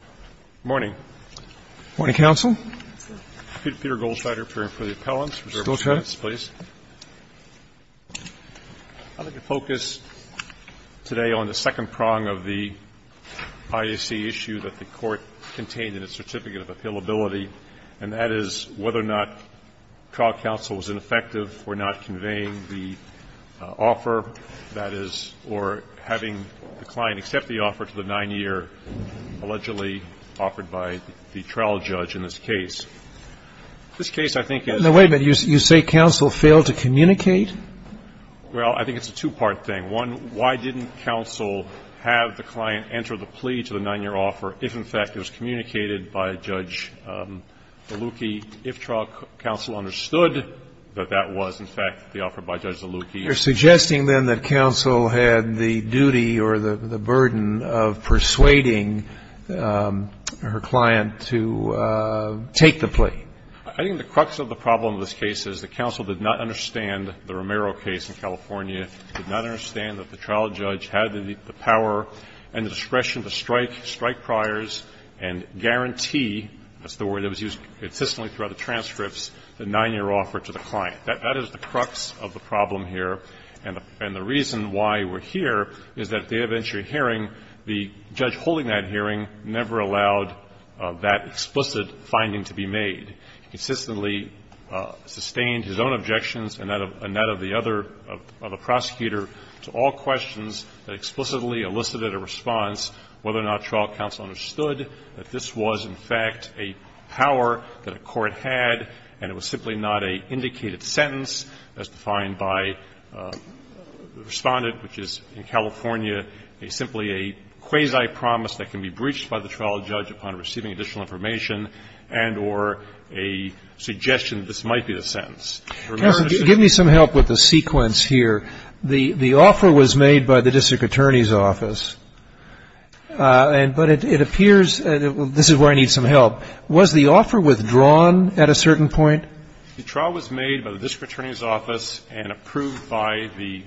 Good morning. Good morning, counsel. I'm Peter Goldsteiner, appearing for the appellants. I'd like to focus today on the second prong of the IAC issue that the Court contained in its certificate of appealability, and that is whether or not trial counsel was ineffective for not conveying the offer, that is, or having the client accept the offer to the 9-year, allegedly offered by the trial judge in this case. This case, I think, is the way that you say counsel failed to communicate. Well, I think it's a two-part thing. One, why didn't counsel have the client enter the plea to the 9-year offer if, in fact, it was communicated by Judge Zalucki, if trial counsel understood that that was, in fact, the offer by Judge Zalucki. You're suggesting, then, that counsel had the duty or the burden of persuading her client to take the plea. I think the crux of the problem of this case is that counsel did not understand the Romero case in California, did not understand that the trial judge had the power and the discretion to strike, strike priors, and guarantee, that's the word that was used consistently throughout the transcripts, the 9-year offer to the client. That is the crux of the problem here. And the reason why we're here is that at the eventual hearing, the judge holding that hearing never allowed that explicit finding to be made. He consistently sustained his own objections and that of the other prosecutor to all questions that explicitly elicited a response, whether or not trial counsel understood that this was, in fact, a power that a court had and it was simply not a indicated sentence as defined by Respondent, which is in California, simply a quasi-promise that can be breached by the trial judge upon receiving additional information and or a suggestion that this might be the sentence. Roberts, give me some help with the sequence here. The offer was made by the district attorney's office, but it appears, this is where I need some help, was the offer withdrawn at a certain point? The trial was made by the district attorney's office and approved by the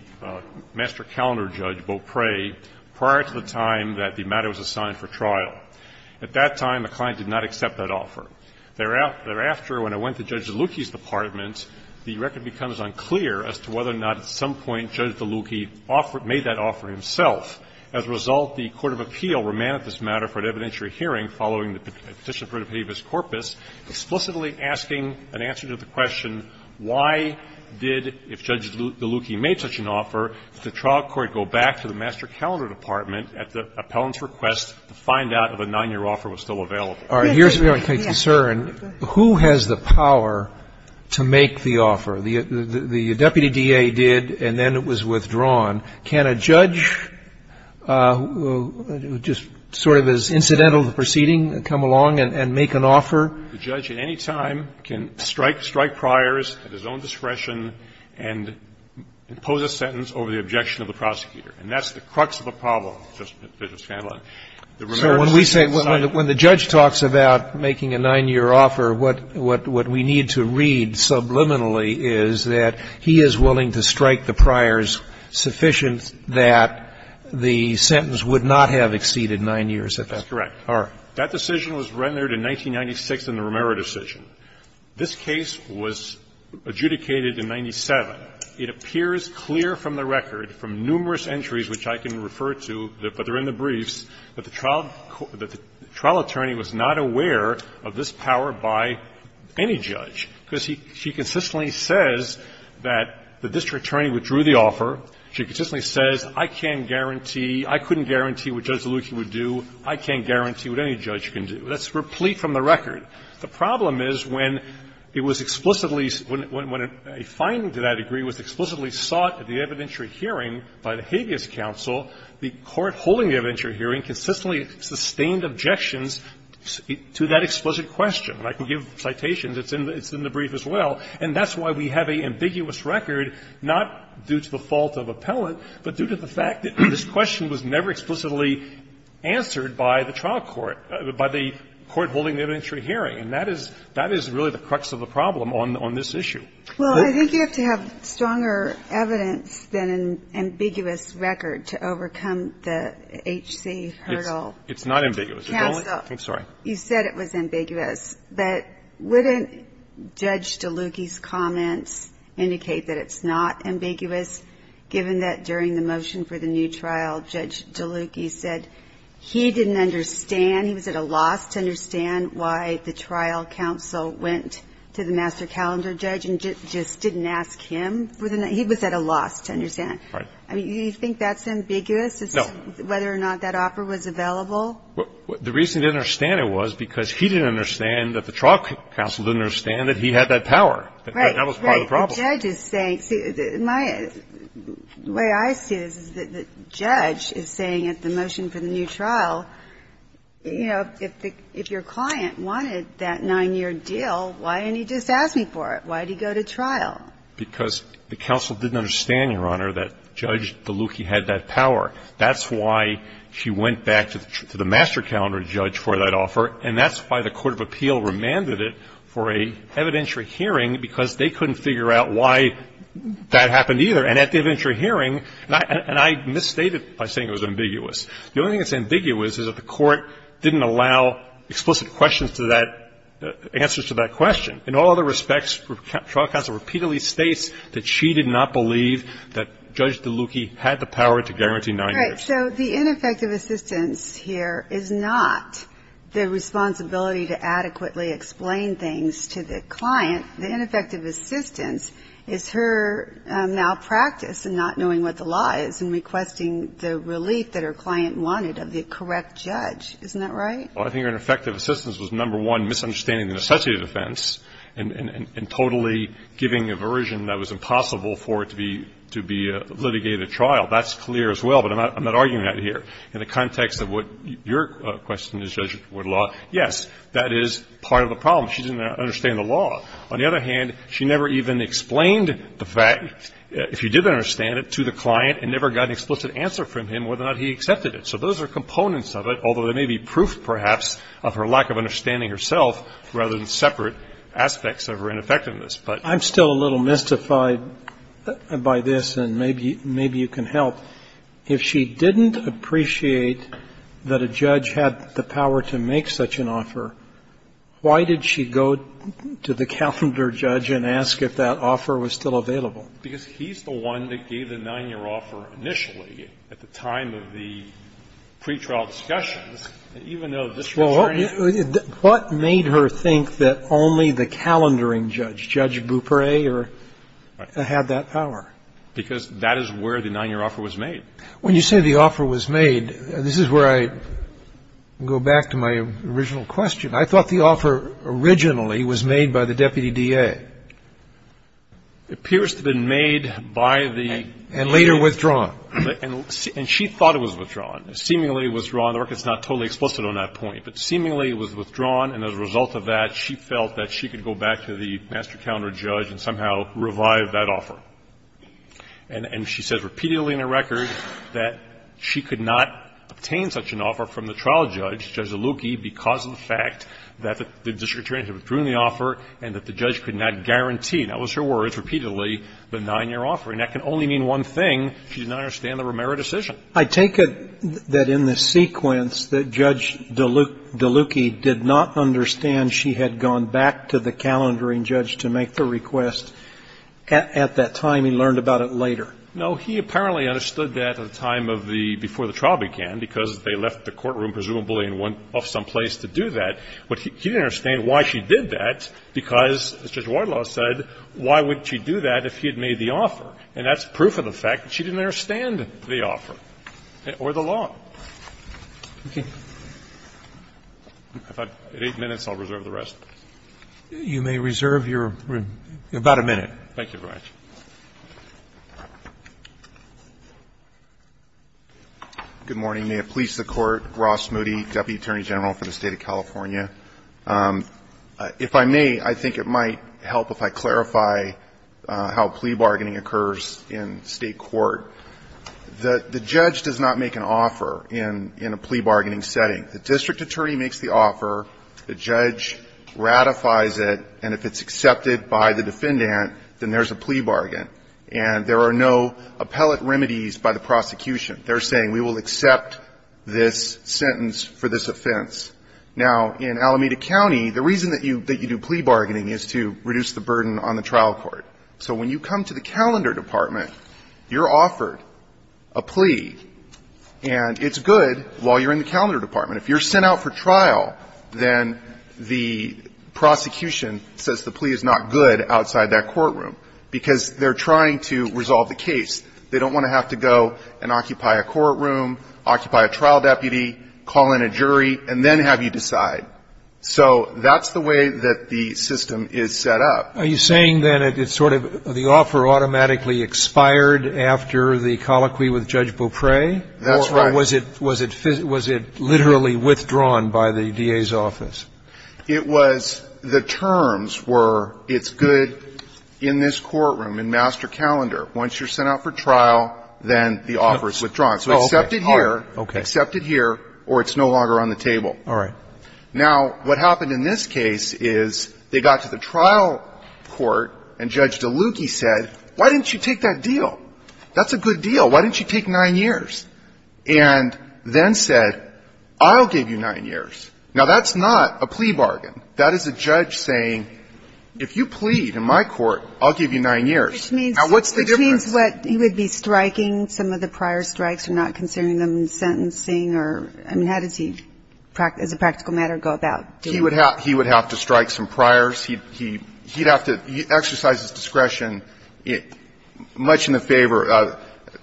master calendar judge, Beaupre, prior to the time that the matter was assigned for trial. At that time, the client did not accept that offer. Thereafter, when I went to Judge Delucchi's department, the record becomes unclear as to whether or not at some point Judge Delucchi made that offer himself. As a result, the court of appeal remanded this matter for an evidentiary hearing following the Petition for Dependable Corpus, explicitly asking an answer to the question, why did, if Judge Delucchi made such an offer, the trial court go back to the master calendar department at the appellant's request to find out if a 9-year offer was still available? All right. Here's where I'm concerned. Who has the power to make the offer? The deputy DA did and then it was withdrawn. Can a judge who just sort of is incidental to the proceeding come along and make an offer? The judge at any time can strike priors at his own discretion and impose a sentence over the objection of the prosecutor. And that's the crux of the problem, Justice Scanlon. So when we say, when the judge talks about making a 9-year offer, what we need to read subliminally is that he is willing to strike the priors sufficient that the sentence would not have exceeded 9 years at that time. That's correct. All right. That decision was rendered in 1996 in the Romero decision. This case was adjudicated in 1997. It appears clear from the record, from numerous entries which I can refer to, but they're in the briefs, that the trial attorney was not aware of this power by any judge, because she consistently says that the district attorney withdrew the offer. She consistently says, I can't guarantee, I couldn't guarantee what Judge Zalewki would do. I can't guarantee what any judge can do. That's replete from the record. The problem is when it was explicitly, when a finding to that degree was explicitly sought at the evidentiary hearing by the habeas counsel, the court holding the evidentiary hearing consistently sustained objections to that explicit question. And I can give citations. It's in the brief as well. And that's why we have an ambiguous record, not due to the fault of appellant, but due to the fact that this question was never explicitly answered by the trial court, by the court holding the evidentiary hearing. And that is, that is really the crux of the problem on this issue. Well, I think you have to have stronger evidence than an ambiguous record to overcome the H.C. hurdle. It's not ambiguous. Counsel. I'm sorry. You said it was ambiguous, but wouldn't Judge Zalewki's comments indicate that it's not ambiguous, given that during the motion for the new trial, Judge Zalewki said he didn't understand, he was at a loss to understand why the trial counsel went to the master calendar judge and just didn't ask him for the, he was at a loss to understand. Right. I mean, do you think that's ambiguous as to whether or not that offer was available? The reason he didn't understand it was because he didn't understand that the trial counsel didn't understand that he had that power. That was part of the problem. Right. The judge is saying, the way I see this is that the judge is saying at the motion for the new trial, you know, if your client wanted that 9-year deal, why didn't he just ask me for it? Why did he go to trial? Because the counsel didn't understand, Your Honor, that Judge Zalewki had that power. That's why she went back to the master calendar judge for that offer, and that's why the court of appeal remanded it for an evidentiary hearing, because they couldn't figure out why that happened either. And at the evidentiary hearing, and I misstated by saying it was ambiguous. The only thing that's ambiguous is that the court didn't allow explicit questions to that, answers to that question. In all other respects, trial counsel repeatedly states that she did not believe that Judge Zalewki had the power to guarantee 9 years. Right. So the ineffective assistance here is not the responsibility to adequately explain things to the client. The ineffective assistance is her malpractice in not knowing what the law is and requesting the relief that her client wanted of the correct judge. Isn't that right? Well, I think her ineffective assistance was, number one, misunderstanding the necessity of defense and totally giving a version that was impossible for it to be a litigated trial. That's clear as well, but I'm not arguing that here. In the context of what your question is, Judge Woodlaw, yes, that is part of the problem. She didn't understand the law. On the other hand, she never even explained the fact, if she did understand it, to the client and never got an explicit answer from him whether or not he accepted it. So those are components of it, although there may be proof perhaps of her lack of understanding herself rather than separate aspects of her ineffectiveness. But I'm still a little mystified by this, and maybe you can help. If she didn't appreciate that a judge had the power to make such an offer, why did she go to the calendar judge and ask if that offer was still available? Because he's the one that gave the 9-year offer initially at the time of the pretrial discussions, even though this concerned you. Well, what made her think that only the calendaring judge, Judge Bupre, had that power? Because that is where the 9-year offer was made. When you say the offer was made, this is where I go back to my original question. I thought the offer originally was made by the deputy DA. It appears to have been made by the... And later withdrawn. And she thought it was withdrawn. Seemingly withdrawn. The record is not totally explicit on that point. But seemingly it was withdrawn, and as a result of that, she felt that she could go back to the master calendar judge and somehow revive that offer. And she said repeatedly in her record that she could not obtain such an offer from the trial judge, Judge Zaluki, because of the fact that the district attorney had withdrawn the offer and that the judge could not guarantee, that was her words, repeatedly, the 9-year offer. And that can only mean one thing. She did not understand the Romero decision. I take it that in the sequence that Judge Zaluki did not understand she had gone back to the calendaring judge to make the request. At that time, he learned about it later. No. He apparently understood that at the time of the, before the trial began, because they left the courtroom, presumably, and went off someplace to do that. But he didn't understand why she did that, because, as Judge Wardlaw said, why would she do that if he had made the offer? And that's proof of the fact that she didn't understand the offer or the law. At 8 minutes, I'll reserve the rest. You may reserve your about a minute. Thank you very much. Good morning. May it please the Court. Ross Moody, Deputy Attorney General for the State of California. If I may, I think it might help if I clarify how plea bargaining occurs in state court. The judge does not make an offer in a plea bargaining setting. The district attorney makes the offer. The judge ratifies it. And if it's accepted by the defendant, then there's a plea bargain. And there are no appellate remedies by the prosecution. They're saying, we will accept this sentence for this offense. Now, in Alameda County, the reason that you do plea bargaining is to reduce the burden on the trial court. So when you come to the calendar department, you're offered a plea. And it's good while you're in the calendar department. If you're sent out for trial, then the prosecution says the plea is not good outside that courtroom, because they're trying to resolve the case. They don't want to have to go and occupy a courtroom, occupy a trial deputy, call in a jury, and then have you decide. So that's the way that the system is set up. Are you saying, then, it's sort of the offer automatically expired after the colloquy with Judge Beaupre? That's right. Or was it literally withdrawn by the DA's office? It was the terms were, it's good in this courtroom, in master calendar. Once you're sent out for trial, then the offer is withdrawn. So accept it here, accept it here, or it's no longer on the table. All right. Now, what happened in this case is they got to the trial court, and Judge Delucchi said, why didn't you take that deal? That's a good deal. Why didn't you take nine years? And then said, I'll give you nine years. Now, that's not a plea bargain. That is a judge saying, if you plead in my court, I'll give you nine years. Now, what's the difference? That means what, he would be striking some of the prior strikes, or not considering them sentencing, or, I mean, how does he, as a practical matter, go about doing that? He would have to strike some priors. He'd have to exercise his discretion much in the favor,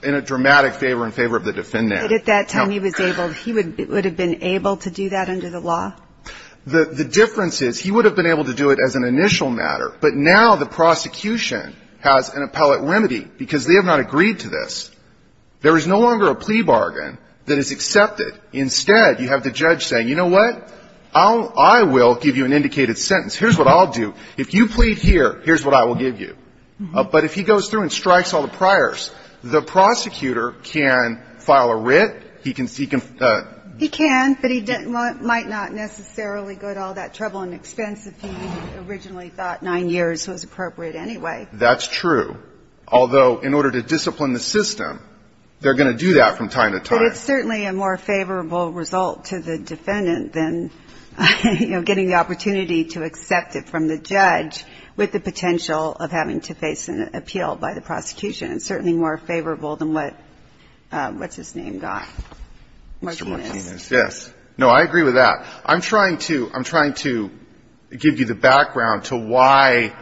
in a dramatic favor, in favor of the defendant. But at that time, he was able, he would have been able to do that under the law? The difference is, he would have been able to do it as an initial matter. But now, the prosecution has an appellate remedy, because they have not agreed to this. There is no longer a plea bargain that is accepted. Instead, you have the judge saying, you know what? I will give you an indicated sentence. Here's what I'll do. If you plead here, here's what I will give you. But if he goes through and strikes all the priors, the prosecutor can file a writ. He can seek a ---- He can, but he might not necessarily go to all that trouble and expense if he originally thought nine years was appropriate anyway. That's true. Although, in order to discipline the system, they're going to do that from time to time. But it's certainly a more favorable result to the defendant than, you know, getting the opportunity to accept it from the judge with the potential of having to face an appeal by the prosecution. It's certainly more favorable than what, what's-his-name got, Martinez. Yes. No, I agree with that. I'm trying to, I'm trying to give you the background to why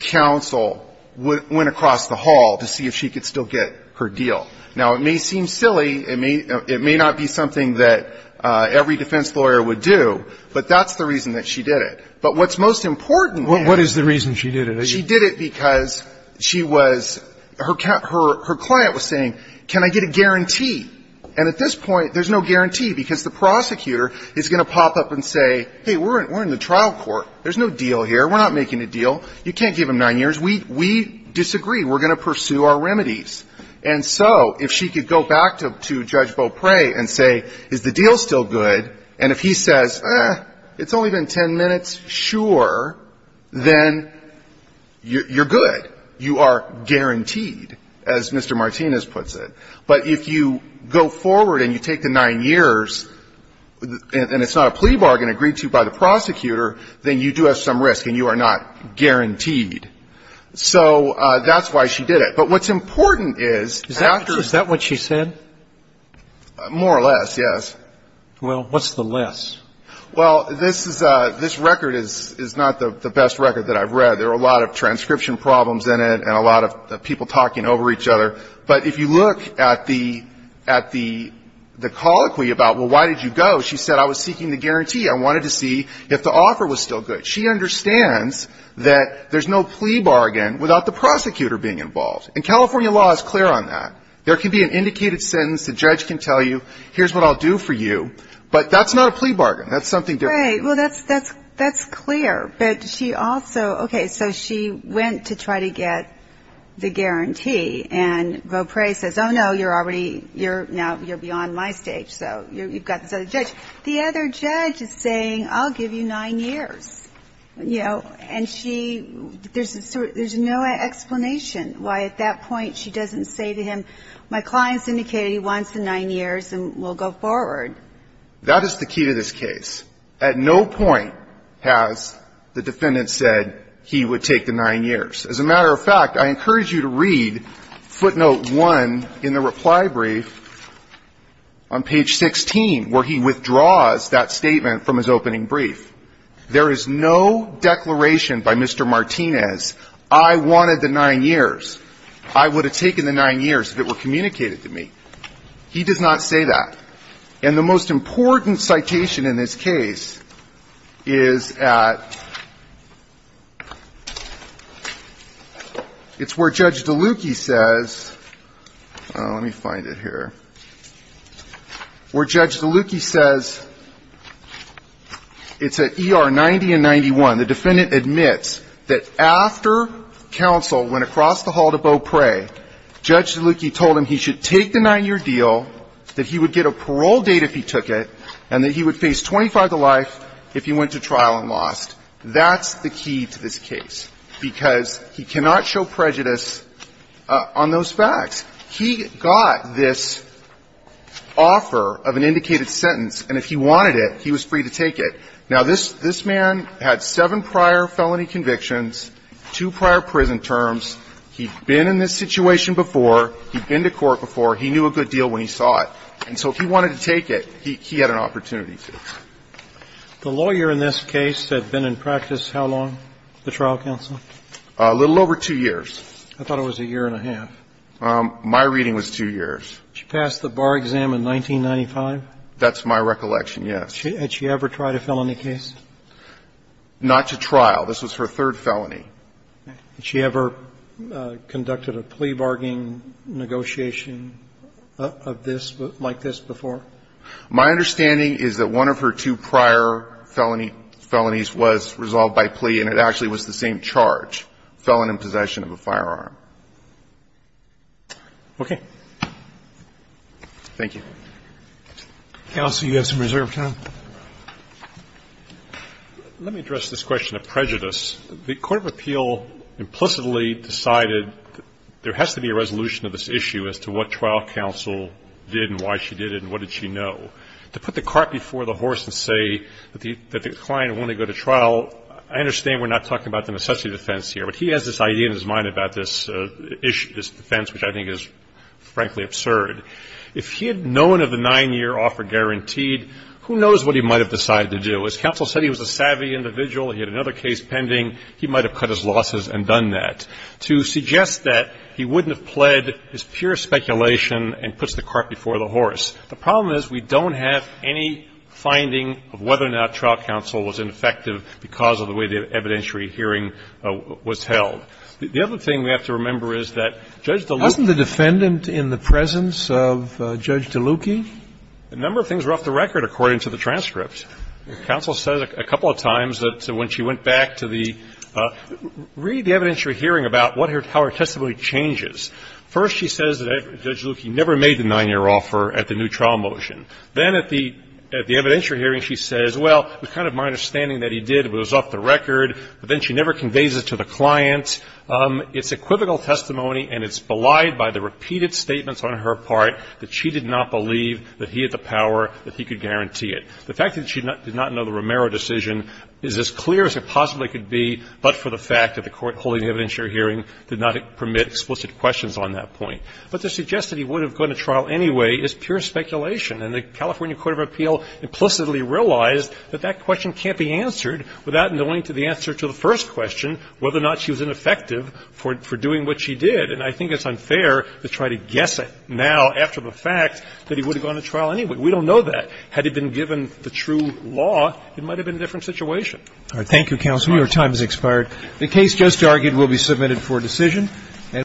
counsel went across the hall to see if she could still get her deal. Now, it may seem silly. It may, it may not be something that every defense lawyer would do. But that's the reason that she did it. But what's most important is ---- What is the reason she did it? She did it because she was, her client was saying, can I get a guarantee? And at this point, there's no guarantee because the prosecutor is going to pop up and say, hey, we're in the trial court. There's no deal here. We're not making a deal. You can't give him nine years. We disagree. We're going to pursue our remedies. And so if she could go back to Judge Beaupre and say, is the deal still good? And if he says, eh, it's only been ten minutes, sure, then you're good. You are guaranteed, as Mr. Martinez puts it. But if you go forward and you take the nine years and it's not a plea bargain agreed to by the prosecutor, then you do have some risk and you are not guaranteed. So that's why she did it. But what's important is after ---- Is that what she said? More or less, yes. Well, what's the less? Well, this record is not the best record that I've read. There are a lot of transcription problems in it and a lot of people talking over each other. But if you look at the colloquy about, well, why did you go? She said, I was seeking the guarantee. I wanted to see if the offer was still good. She understands that there's no plea bargain without the prosecutor being involved. And California law is clear on that. There can be an indicated sentence. The judge can tell you, here's what I'll do for you. But that's not a plea bargain. That's something different. Right. Well, that's clear. But she also, okay, so she went to try to get the guarantee. And Vautre says, oh, no, you're already, now you're beyond my stage. So you've got this other judge. The other judge is saying, I'll give you nine years. You know, and she, there's no explanation why at that point she doesn't say to him, my client's indicated he wants the nine years and we'll go forward. That is the key to this case. At no point has the defendant said he would take the nine years. As a matter of fact, I encourage you to read footnote 1 in the reply brief on page 16 where he withdraws that statement from his opening brief. There is no declaration by Mr. Martinez, I wanted the nine years. I would have taken the nine years if it were communicated to me. He does not say that. And the most important citation in this case is at, it's where Judge Delucchi says, let me find it here, where Judge Delucchi says, it's at ER 90 and 91. The defendant admits that after counsel went across the hall to Beaupre, Judge Delucchi told him he should take the nine-year deal, that he would get a parole date if he took it, and that he would face 25 to life if he went to trial and lost. That's the key to this case, because he cannot show prejudice on those facts. He got this offer of an indicated sentence, and if he wanted it, he was free to take it. Now, this man had seven prior felony convictions, two prior prison terms. He'd been in this situation before. He'd been to court before. He knew a good deal when he saw it. And so if he wanted to take it, he had an opportunity to. The lawyer in this case had been in practice how long, the trial counsel? A little over two years. I thought it was a year and a half. My reading was two years. She passed the bar exam in 1995? That's my recollection, yes. Had she ever tried a felony case? Not to trial. This was her third felony. Had she ever conducted a plea bargaining negotiation of this, like this before? My understanding is that one of her two prior felony felonies was resolved by plea, and it actually was the same charge, felon in possession of a firearm. Okay. Thank you. Counsel, you have some reserve time. Let me address this question of prejudice. The court of appeal implicitly decided there has to be a resolution of this issue as to what trial counsel did and why she did it and what did she know. To put the cart before the horse and say that the client wanted to go to trial, I understand we're not talking about the necessity defense here, but he has this idea in his mind about this defense, which I think is, frankly, absurd. If he had known of the nine-year offer guaranteed, who knows what he might have decided to do? As counsel said, he was a savvy individual. He had another case pending. He might have cut his losses and done that. To suggest that, he wouldn't have pled his pure speculation and put the cart before the horse. The problem is we don't have any finding of whether or not trial counsel was ineffective because of the way the evidentiary hearing was held. The other thing we have to remember is that Judge Delucchi Wasn't the defendant in the presence of Judge Delucchi? A number of things were off the record according to the transcript. Counsel said a couple of times that when she went back to the – read the evidentiary hearing about how her testimony changes. First, she says that Judge Delucchi never made the nine-year offer at the new trial motion. Then at the evidentiary hearing, she says, well, it was kind of my understanding that he did, but it was off the record. But then she never conveys it to the client. It's equivocal testimony and it's belied by the repeated statements on her part that she did not believe that he had the power, that he could guarantee it. The fact that she did not know the Romero decision is as clear as it possibly could be, but for the fact that the Court holding the evidentiary hearing did not permit explicit questions on that point. But to suggest that he would have gone to trial anyway is pure speculation. And the California court of appeal implicitly realized that that question can't be answered without knowing the answer to the first question, whether or not she was ineffective for doing what she did. And I think it's unfair to try to guess it now after the fact that he would have gone to trial anyway. We don't know that. Had it been given the true law, it might have been a different situation. Roberts. Thank you, counsel. Your time has expired. The case just argued will be submitted for decision.